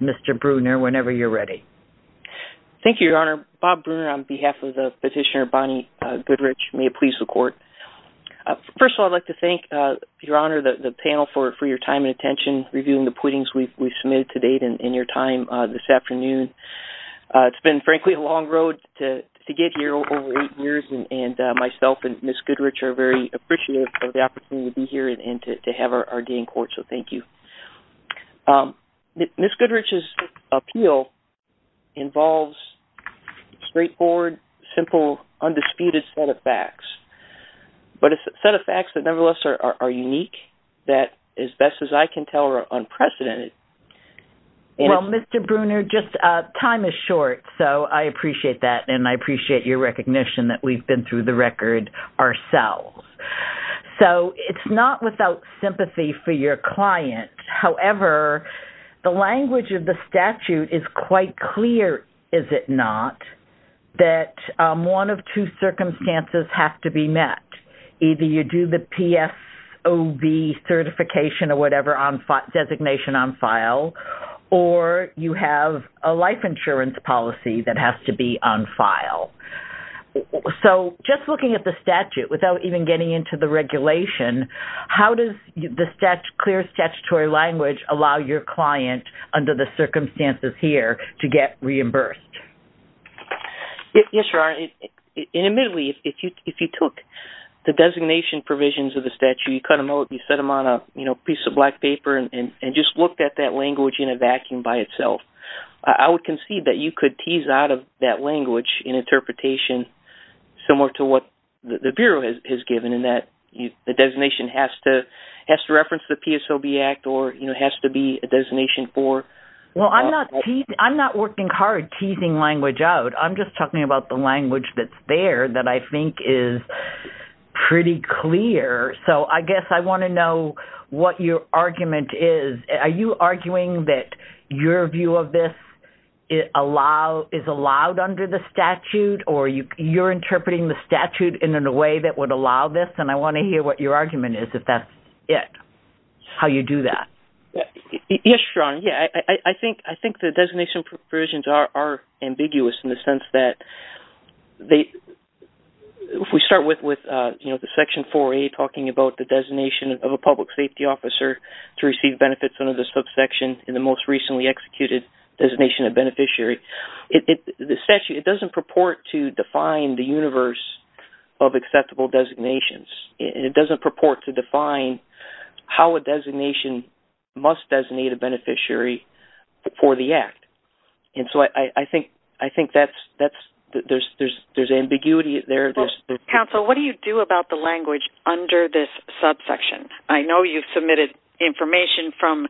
Mr. Bruner, whenever you're ready. Thank you, Your Honor. Bob Bruner on behalf of the petitioner, Bonnie Goodrich, may it please the Court. First of all, I'd like to thank Your Honor, the panel, for your time and attention reviewing the pleadings we've submitted to date and in your time this afternoon. It's been, frankly, a long road to get here, over eight years, and myself and Ms. Goodrich are very appreciative of the opportunity to be here and to have our day in court, so thank you. Ms. Goodrich's appeal involves straightforward, simple, undisputed set of facts, but a set of facts that, nevertheless, are unique, that, as best as I can tell, are unprecedented. Well, Mr. Bruner, just time is short, so I appreciate that, and I appreciate your recognition that we've been through the record ourselves. So it's not without sympathy for your client, however, the language of the statute is quite clear, is it not, that one of two circumstances have to be met. Either you do the PSOB certification or whatever, designation on file, or you have a life insurance policy that has to be on file. So just looking at the statute, without even getting into the regulation, how does the clear statutory language allow your client, under the circumstances here, to get reimbursed? Yes, your Honor, and admittedly, if you took the designation provisions of the statute, you cut them out, you set them on a piece of black paper, and just looked at that language in a vacuum by itself. I would concede that you could tease out of that language an interpretation similar to what the Bureau has given, in that the designation has to reference the PSOB Act, or has to be a designation for... Well, I'm not working hard teasing language out. I'm just talking about the language that's there that I think is pretty clear. So I guess I want to know what your argument is. Are you arguing that your view of this is allowed under the statute, or you're interpreting the statute in a way that would allow this? And I want to hear what your argument is, if that's it, how you do that. Yes, your Honor. I think the designation provisions are ambiguous, in the sense that they... We start with the Section 4A, talking about the designation of a public safety officer to receive benefits under the subsection, and the most recently executed designation of beneficiary. The statute doesn't purport to define the universe of acceptable designations. It doesn't purport to define how a designation must designate a beneficiary for the Act. And so I think there's ambiguity there. Counsel, what do you do about the language under this subsection? I know you've submitted information from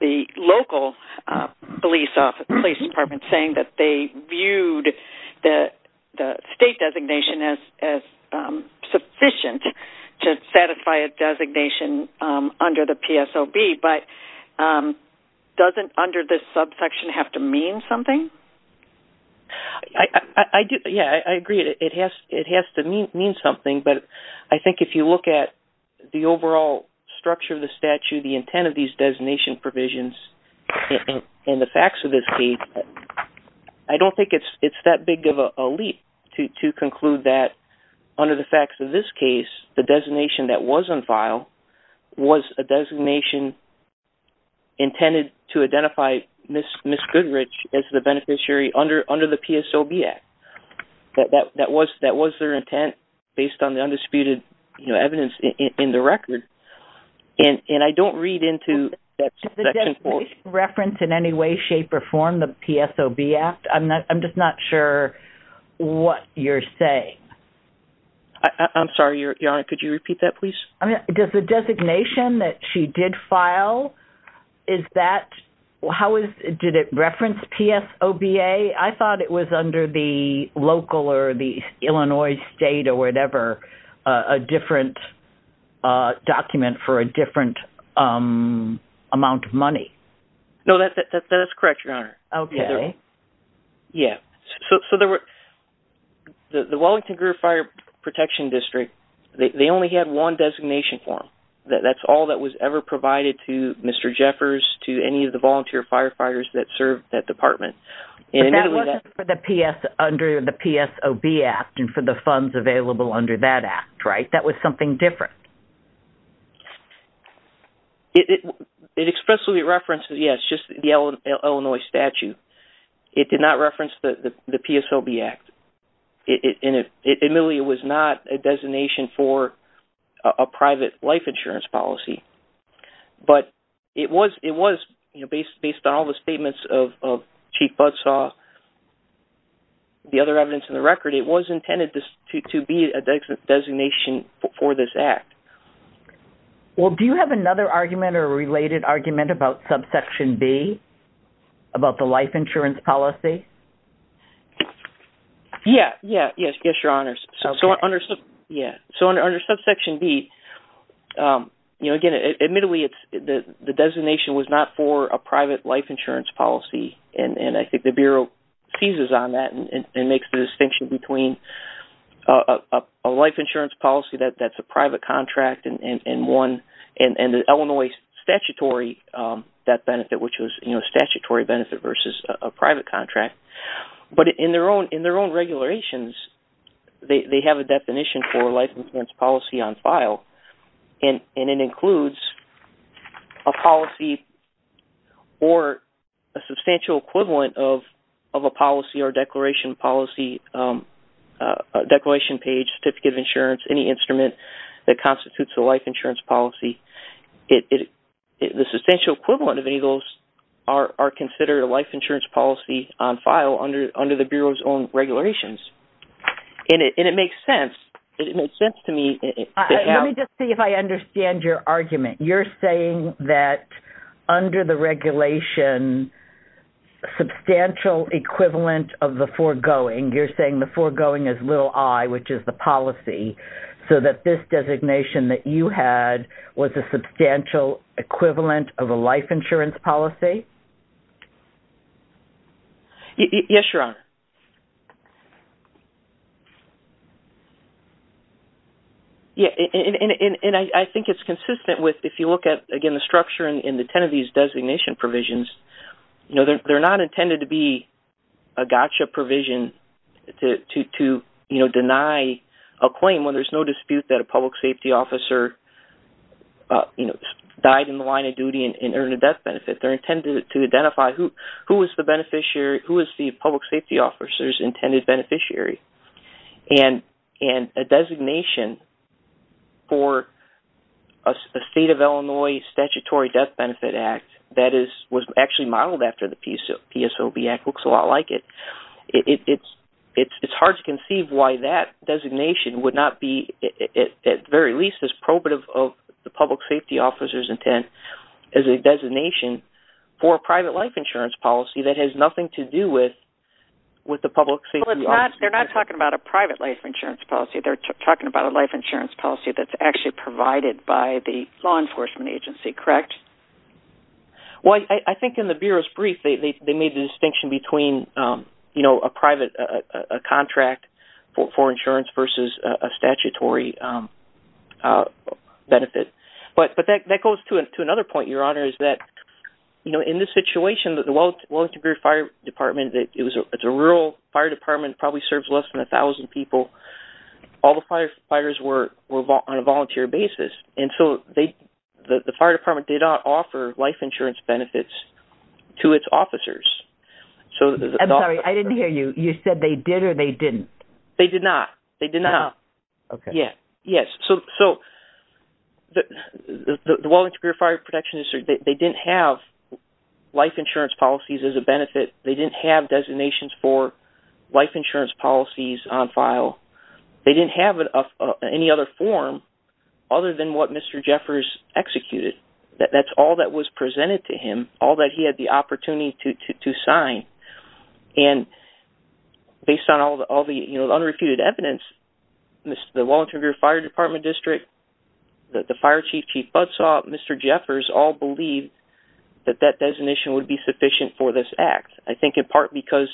the local police department, saying that they viewed the state designation as sufficient to satisfy a designation under the PSOB. But doesn't under this subsection have to mean something? Yeah, I agree. It has to mean something, but I think if you look at the overall structure of the statute, the intent of these designation provisions, and the facts of this case, I don't think it's that big of a leap to conclude that under the facts of this case, the designation that was on file was a designation intended to identify Ms. Goodrich as the beneficiary under the PSOB Act. That was their intent, based on the undisputed evidence in the record. And I don't read into that subsection quote. Does the designation reference in any way, shape, or form the PSOB Act? I'm just not sure what you're saying. I'm sorry, Your Honor, could you repeat that, please? Does the designation that she did file, is that, how is, did it reference PSOBA? I thought it was under the local or the Illinois state or whatever, a different document for a different amount of money. No, that's correct, Your Honor. Okay. Yeah. So there were, the Wellington-Groove Fire Protection District, they only had one designation form. That's all that was ever provided to Mr. Jeffers, to any of the volunteer firefighters that served that department. But that wasn't for the PS, under the PSOB Act, and for the funds available under that Act, right? That was something different. It expressly references, yes, just the Illinois statute. It did not reference the PSOB Act, and it admittedly was not a designation for a private life insurance policy. But it was, you know, based on all the statements of Chief Budsaw, the other evidence in the record, it was intended to be a designation for this Act. Well, do you have another argument or a related argument about subsection B, about the life insurance policy? Yeah, yeah, yes, Your Honors. Okay. Yeah, so under subsection B, you know, again, admittedly, the designation was not for a private life insurance policy, and I think the Bureau seizes on that and makes the distinction between a life insurance policy that's a private contract and one, and the Illinois statutory debt benefit, which was, you know, a statutory benefit versus a private contract. But in their own regulations, they have a definition for a life insurance policy on file, and it includes a policy or a substantial equivalent of a policy or declaration policy, declaration page, certificate of insurance, any instrument that constitutes a life insurance policy. The substantial equivalent of any of those are considered a life insurance policy on file under the Bureau's own regulations. And it makes sense. It makes sense to me. Let me just see if I understand your argument. You're saying that under the regulation, substantial equivalent of the foregoing, you're saying the foregoing is little i, which is the policy, so that this designation that you had was a substantial equivalent of a life insurance policy? Yes, Your Honor. Yeah, and I think it's consistent with, if you look at, again, the structure in the ten of these designation provisions, you know, they're not intended to be a gotcha provision to, you know, deny a claim when there's no dispute that a public safety officer, you know, died in the line of duty and earned a death benefit. They're intended to identify who is the beneficiary, who is the public safety officer's intended beneficiary. And a designation for a State of Illinois Statutory Death Benefit Act that was actually modeled after the PSOB Act looks a lot like it. It's hard to conceive why that designation would not be, at the very least, as probative of the public safety officer's intent as a designation for a private life insurance policy that has nothing to do with the public safety officer's intent. Well, they're not talking about a private life insurance policy. They're talking about a life insurance policy that's actually provided by the law enforcement agency, correct? Well, I think in the Bureau's brief, they made the distinction between, you know, a private contract for insurance versus a statutory benefit. But that goes to another point, Your Honor, is that, you know, in this situation, the Wellington Fire Department, it's a rural fire department, probably serves less than a thousand people. All the firefighters were on a volunteer basis. And so the fire department did not offer life insurance benefits to its officers. I'm sorry, I didn't hear you. You said they did or they didn't? They did not. They did not. Okay. Yeah. Yes. So the Wellington Fire Protection Institute, they didn't have life insurance policies as a benefit. They didn't have designations for life insurance policies on file. They didn't have any other form other than what Mr. Jeffers executed. That's all that was presented to him, all that he had the opportunity to sign. And based on all the unrefuted evidence, the Wellington Fire Department District, the fire chief, Chief Budsaw, Mr. Jeffers, all believed that that designation would be sufficient for this act. I think in part because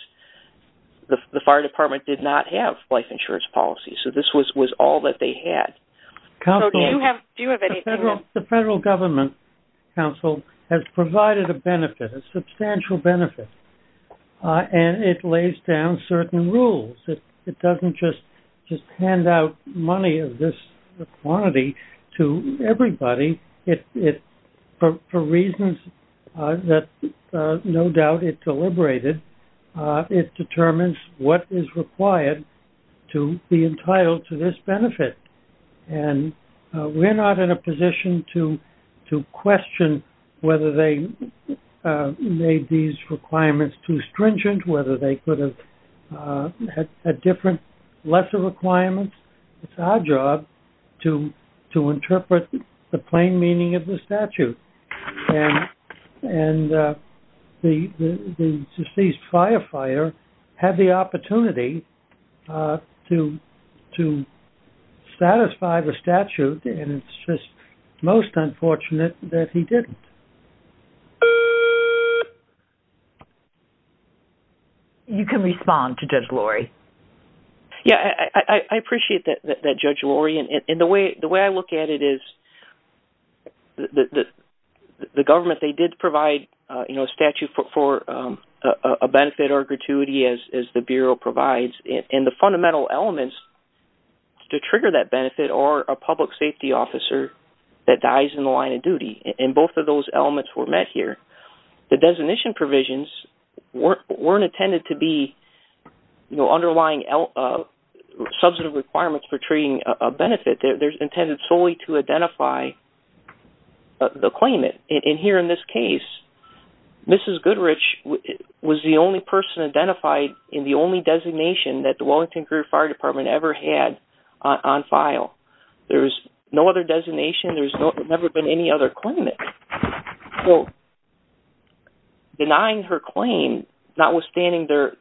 the fire department did not have life insurance policies. So this was all that they had. The federal government council has provided a benefit, a substantial benefit, and it lays down certain rules. It doesn't just hand out money of this quantity to everybody. It, for reasons that no doubt it deliberated, it determines what is required to be entitled to this benefit. And we're not in a position to question whether they made these requirements too stringent, whether they could have had different lesser requirements. It's our job to interpret the plain meaning of the statute. And the deceased firefighter had the opportunity to satisfy the statute. And it's just most unfortunate that he didn't. You can respond to Judge Lori. Yeah, I appreciate that, Judge Lori. And the way I look at it is the government, they did provide a statute for a benefit or gratuity as the Bureau provides. And the fundamental elements to trigger that benefit are a public safety officer that dies in the line of duty. And both of those elements were met here. The designation provisions weren't intended to be, you know, underlying substantive requirements for treating a benefit. They're intended solely to identify the claimant. And here in this case, Mrs. Goodrich was the only person identified in the only designation that the Wellington Fire Department ever had on file. There was no other designation. There's never been any other claimant. So denying her claim, notwithstanding their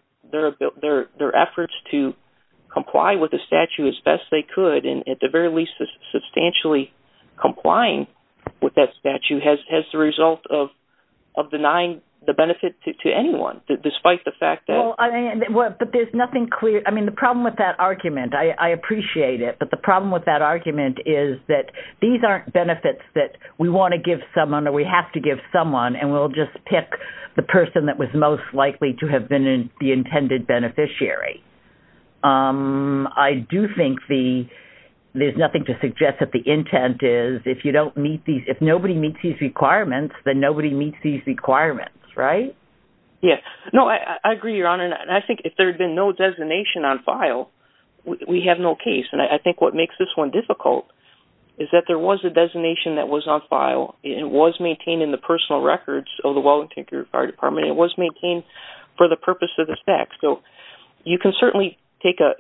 efforts to comply with the statute as best they could, and at the very least, substantially complying with that statute, has the result of denying the benefit to anyone, despite the fact that- Well, but there's nothing clear. I mean, the problem with that argument, I appreciate it. But the problem with that argument is that these aren't benefits that we want to give someone or we have to give someone, and we'll just pick the person that was most likely to have been the intended beneficiary. I do think there's nothing to suggest that the intent is if you don't meet these- if nobody meets these requirements, then nobody meets these requirements, right? Yes. No, I agree, Your Honor. And I think if there had been no designation on file, we have no case. And I think what makes this one difficult is that there was a designation that was on file. It was maintained in the personal records of the Well Integrated Fire Department. It was maintained for the purpose of the statute. So you can certainly take a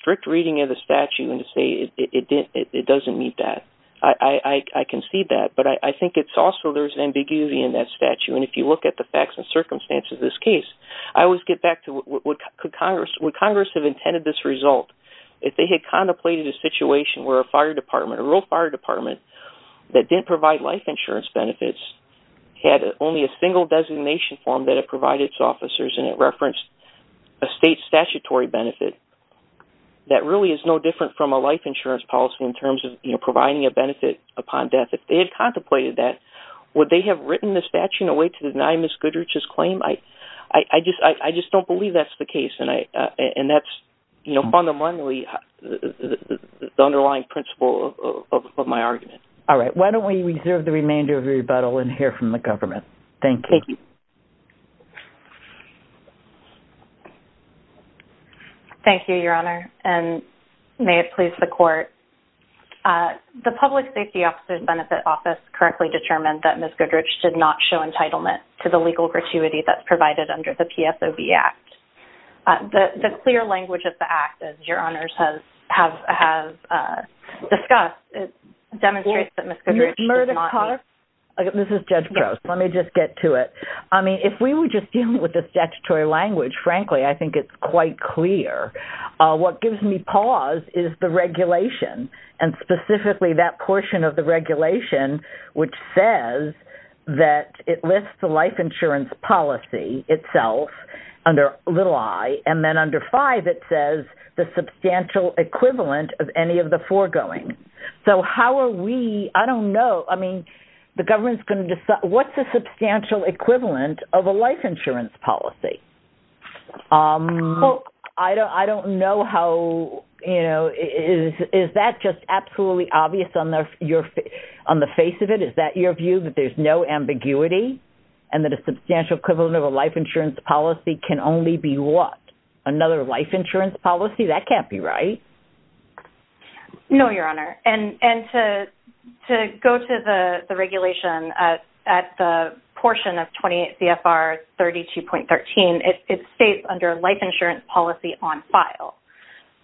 strict reading of the statute and say it doesn't meet that. I can see that. But I think it's also there's ambiguity in that statute. And if you look at the facts and circumstances of this case, I always get back to would Congress have intended this result? If they had contemplated a situation where a fire department, a real fire department that didn't provide life insurance benefits had only a single designation form that it provided to officers and it referenced a state statutory benefit, that really is no different from a life insurance policy in terms of providing a benefit upon death. If they had contemplated that, would they have written the statute in a way to deny Ms. Goodrich's claim? I just don't believe that's the case. And that's fundamentally the underlying principle of my argument. All right. Why don't we reserve the remainder of the rebuttal and hear from the government? Thank you. Thank you, Your Honor. And may it please the Court. The Public Safety Officer's Benefit Office currently determined that Ms. Goodrich did not show entitlement to the legal gratuity that's provided under the PSOB Act. The clear language of the Act, as Your Honors have discussed, it demonstrates that Ms. Goodrich did not- Ms. Murdoch-Carter? This is Judge Prowse. Let me just get to it. I mean, if we were just dealing with the statutory language, frankly, I think it's quite clear. What gives me pause is the regulation and specifically that portion of the regulation which says that it lists the life insurance policy itself under little i and then under five it says the substantial equivalent of any of the foregoing. So how are we- I don't know. I mean, the government's going to decide- what's the substantial equivalent of a life insurance policy? Well, I don't know how- is that just absolutely obvious on the face of it? Is that your view that there's no ambiguity and that a substantial equivalent of a life insurance policy can only be what? Another life insurance policy? That can't be right. No, Your Honor. And to go to the regulation at the portion of 28 CFR 32.13, it states under life insurance policy on file.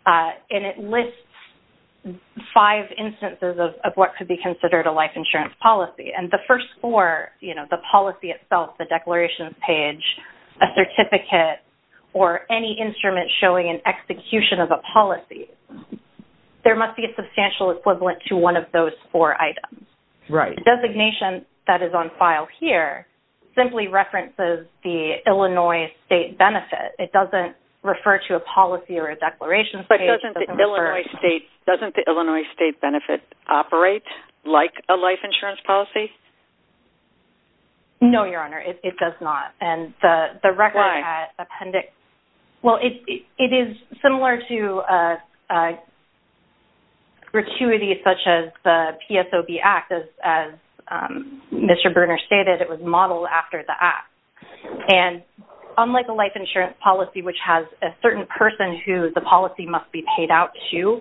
And it lists five instances of what could be considered a life insurance policy. And the first four, the policy itself, the declarations page, a certificate or any instrument showing an execution of a policy, there must be a substantial equivalent to one of those four items. Right. The designation that is on file here simply references the Illinois state benefit. It doesn't refer to a policy or a declaration page. But doesn't the Illinois state benefit operate like a life insurance policy? No, Your Honor, it does not. And the record- Why? Appendix... Well, it is similar to a gratuity such as the PSOB Act, as Mr. Berner stated, it was modeled after the Act. And unlike a life insurance policy, which has a certain person who the policy must be paid out to,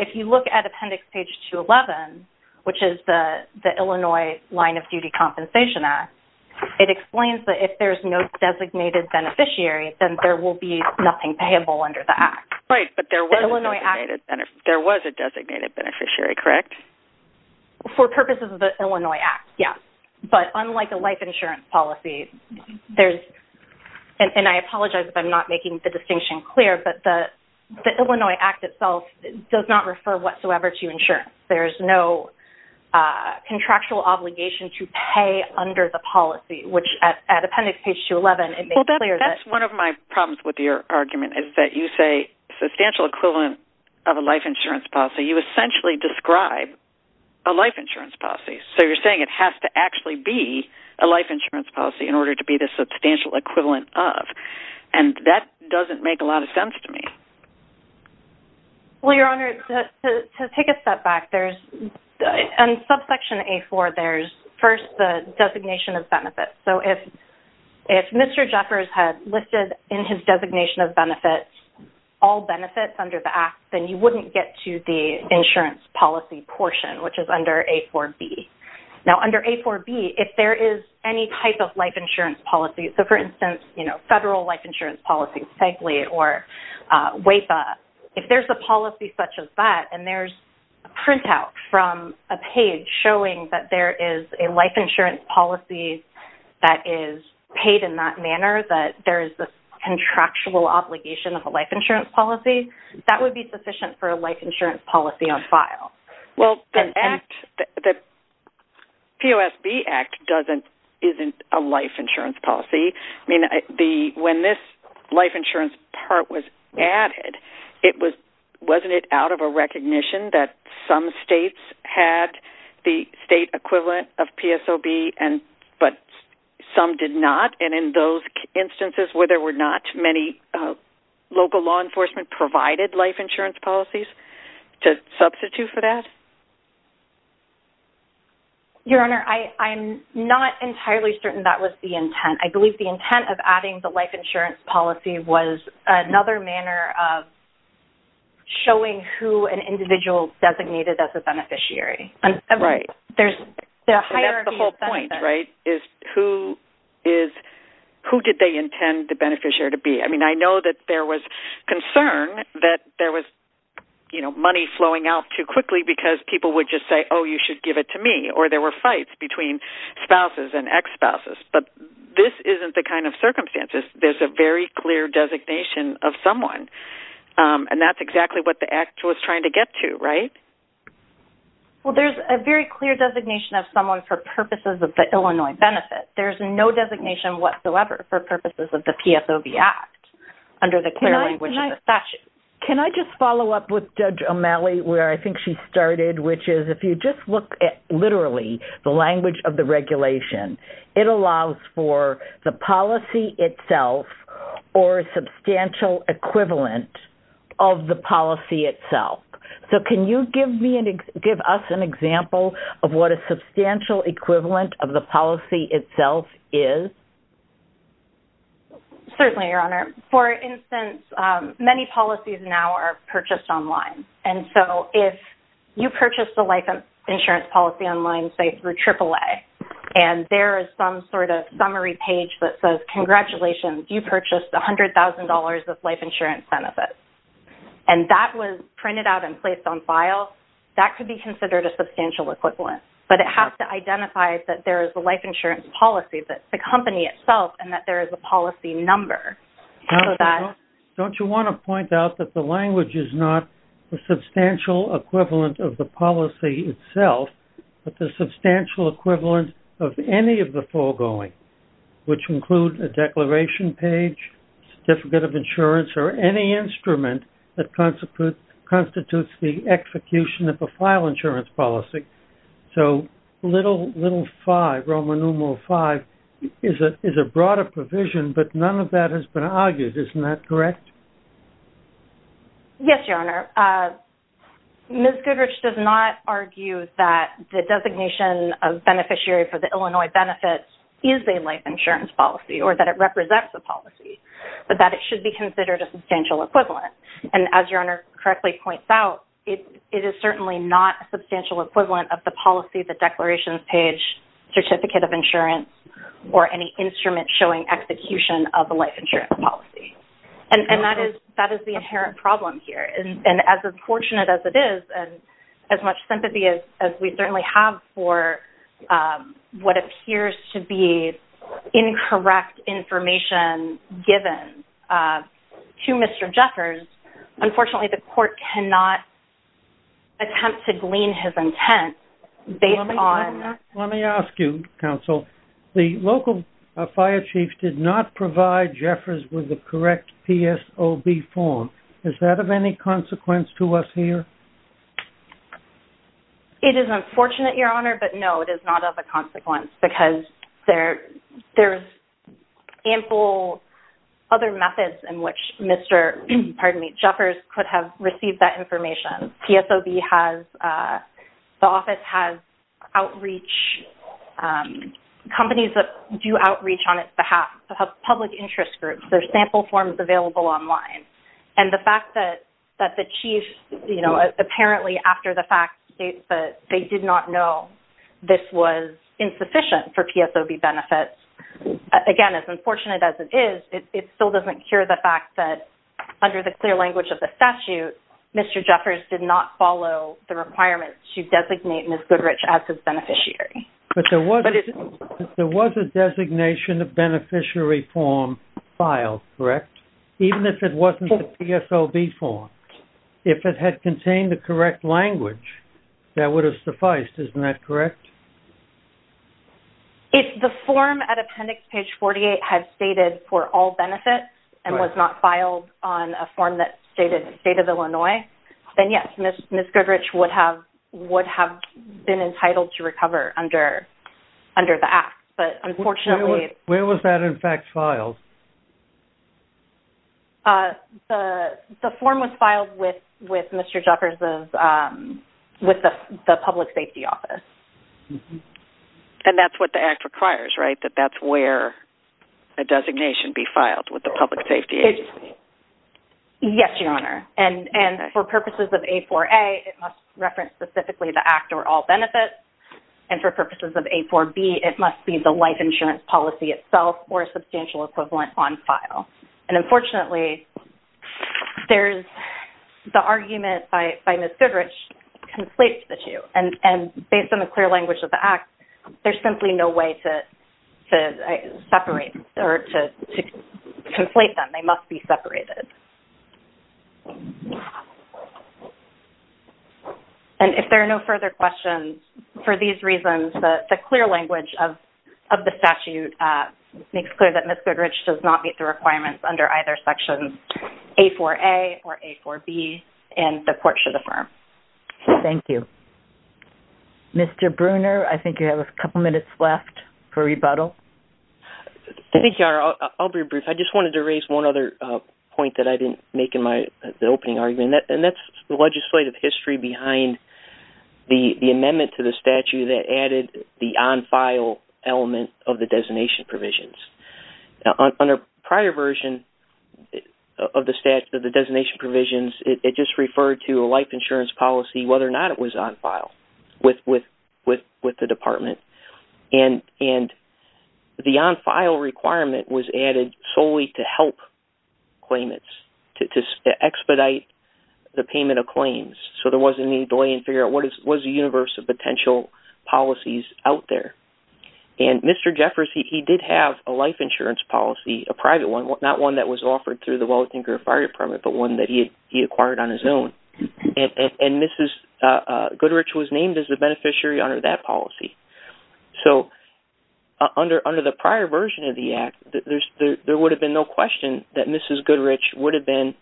if you look at appendix page 211, which is the Illinois Line of Duty Compensation Act, it explains that if there's no designated beneficiary, then there will be nothing payable under the Act. Right, but there was a designated beneficiary, correct? For purposes of the Illinois Act, yes. But unlike a life insurance policy, there's- and I apologize if I'm not making the distinction clear, but the Illinois Act itself does not refer whatsoever to insurance. There's no contractual obligation to pay under the policy, which at appendix page 211- Well, that's one of my problems with your argument, is that you say substantial equivalent of a life insurance policy. You essentially describe a life insurance policy. So you're saying it has to actually be a life insurance policy in order to be the substantial equivalent of. And that doesn't make a lot of sense to me. Well, Your Honor, to take a step back, there's- in subsection A-4, there's first the designation of benefits. So if Mr. Jeffers had listed in his designation of benefits all benefits under the Act, then you wouldn't get to the insurance policy portion, which is under A-4b. Now under A-4b, if there is any type of life insurance policy, so for instance, you know, if there's a policy such as that, and there's a printout from a page showing that there is a life insurance policy that is paid in that manner, that there is a contractual obligation of a life insurance policy, that would be sufficient for a life insurance policy on file. Well, the POSB Act isn't a life insurance policy. I mean, when this life insurance part was added, wasn't it out of a recognition that some states had the state equivalent of PSOB, but some did not? And in those instances where there were not, many local law enforcement provided life insurance policies to substitute for that? Your Honor, I'm not entirely certain that was the intent. I believe the intent of adding the life insurance policy was another manner of showing who an individual designated as a beneficiary. Right. That's the whole point, right, is who did they intend the beneficiary to be? I mean, I know that there was concern that there was, you know, money flowing out too quickly because people would just say, oh, you should give it to me, or there were fights between spouses and ex-spouses. But this isn't the kind of circumstances. There's a very clear designation of someone, and that's exactly what the Act was trying to get to, right? Well, there's a very clear designation of someone for purposes of the Illinois Benefit. There's no designation whatsoever for purposes of the PSOB Act under the clear language of the statute. Can I just follow up with Judge O'Malley, where I think she started, which is if you just look at literally the language of the regulation, it allows for the policy itself or a substantial equivalent of the policy itself. So can you give me and give us an example of what a substantial equivalent of the policy itself is? Certainly, Your Honor. For instance, many policies now are purchased online. And so if you purchase the life insurance policy online, say, through AAA, and there is some sort of summary page that says, congratulations, you purchased $100,000 of life insurance benefits, and that was printed out and placed on file, that could be considered a substantial equivalent. But it has to identify that there is a life insurance policy, that the company itself, and that there is a policy number. Now, don't you want to point out that the language is not the substantial equivalent of the policy itself, but the substantial equivalent of any of the foregoing, which include a declaration page, certificate of insurance, or any instrument that constitutes the execution of a file insurance policy. So little 5, Roman numeral 5, is a broader provision, but none of that has been argued. Isn't that correct? Yes, Your Honor. Ms. Goodrich does not argue that the designation of beneficiary for the Illinois benefits is a life insurance policy or that it represents a policy, but that it should be considered a substantial equivalent. And as Your Honor correctly points out, it is certainly not a substantial equivalent of the policy, the declarations page, certificate of insurance, or any instrument showing execution of a life insurance policy. And that is the inherent problem here. And as unfortunate as it is, and as much sympathy as we certainly have for what appears to be Unfortunately, the court cannot attempt to glean his intent based on... Let me ask you, counsel, the local fire chief did not provide Jeffers with the correct PSOB form. Is that of any consequence to us here? It is unfortunate, Your Honor, but no, it is not of a consequence because there's ample other methods in which Mr., pardon me, Jeffers could have received that information. PSOB has, the office has outreach, companies that do outreach on its behalf, public interest groups, there's sample forms available online. And the fact that the chief, you know, apparently after the fact, they did not know this was insufficient for PSOB benefits. Again, as unfortunate as it is, it still doesn't cure the fact that under the clear language of the statute, Mr. Jeffers did not follow the requirements to designate Ms. Goodrich as his beneficiary. But there was a designation of beneficiary form filed, correct? Even if it wasn't the PSOB form, if it had contained the correct language, that would have sufficed, isn't that correct? If the form at appendix page 48 had stated for all benefits and was not filed on a form that stated the state of Illinois, then yes, Ms. Goodrich would have been entitled to recover under the act, but unfortunately... Where was that, in fact, filed? The form was filed with Mr. Jeffers', with the public safety office. And that's what the act requires, right? That that's where a designation be filed with the public safety agency. Yes, Your Honor. And for purposes of A4A, it must reference specifically the act or all benefits. And for purposes of A4B, it must be the life insurance policy itself or a substantial equivalent on file. And unfortunately, there's the argument by Ms. Goodrich conflates the two. And based on the clear language of the act, there's simply no way to separate or to conflate them, they must be separated. And if there are no further questions, for these reasons, the clear language of the statute makes clear that Ms. Goodrich does not meet the requirements under either section A4A or A4B, and the court should affirm. Thank you. Mr. Bruner, I think you have a couple minutes left for rebuttal. Thank you, Your Honor. I'll be brief. I just wanted to raise one other point that I didn't make in my opening argument, and that's the legislative history behind the amendment to the statute that added the on-file element of the designation provisions. On a prior version of the designation provisions, it just referred to a life insurance policy, whether or not it was on file. With the department. And the on-file requirement was added solely to help claimants, to expedite the payment of claims. So there wasn't any delay in figuring out what is the universe of potential policies out there. And Mr. Jeffress, he did have a life insurance policy, a private one, not one that was offered through the Wellington Fire Department, but one that he acquired on his own. And Mrs. Goodrich was named as the beneficiary under that policy. So under the prior version of the act, there would have been no question that Mrs. Goodrich would have been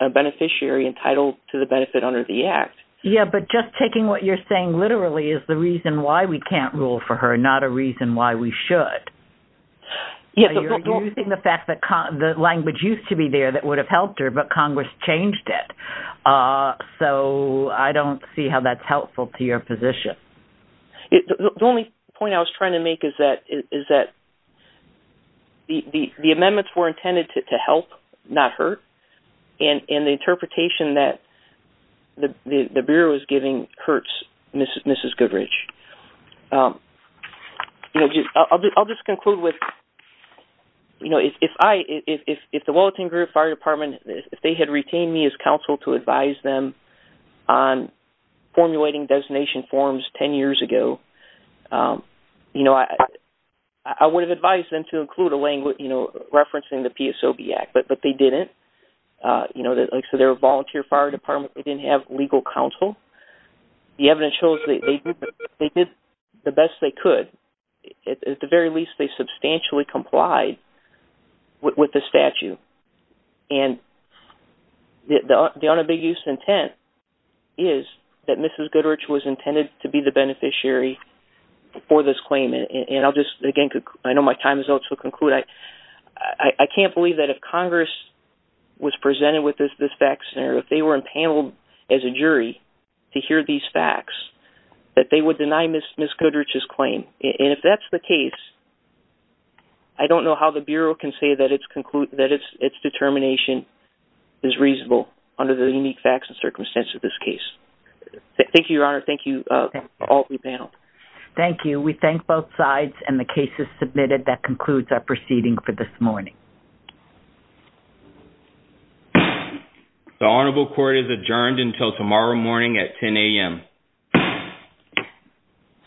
a beneficiary entitled to the benefit under the act. Yeah, but just taking what you're saying literally is the reason why we can't rule for her, not a reason why we should. You're using the fact that the language used to be there that would have helped her, but Congress changed it. So I don't see how that's helpful to your position. The only point I was trying to make is that the amendments were intended to help, not hurt, and the interpretation that the Bureau is giving hurts Mrs. Goodrich. I'll just conclude with, if the Wellington Fire Department, if they had retained me as on formulating designation forms 10 years ago, you know, I would have advised them to include a language, you know, referencing the PSOB Act, but they didn't. You know, like I said, they're a volunteer fire department. They didn't have legal counsel. The evidence shows they did the best they could. At the very least, they substantially complied with the statute. And the unambiguous intent is that Mrs. Goodrich was intended to be the beneficiary for this claim. And I'll just, again, I know my time is up, so I'll conclude. I can't believe that if Congress was presented with this fact scenario, if they were impaneled as a jury to hear these facts, that they would deny Mrs. Goodrich's claim. And if that's the case, I don't know how the Bureau can say that its determination is reasonable under the unique facts and circumstances of this case. Thank you, Your Honor. Thank you for all that you've paneled. Thank you. We thank both sides and the cases submitted. That concludes our proceeding for this morning. The Honorable Court is adjourned until tomorrow morning at 10 a.m.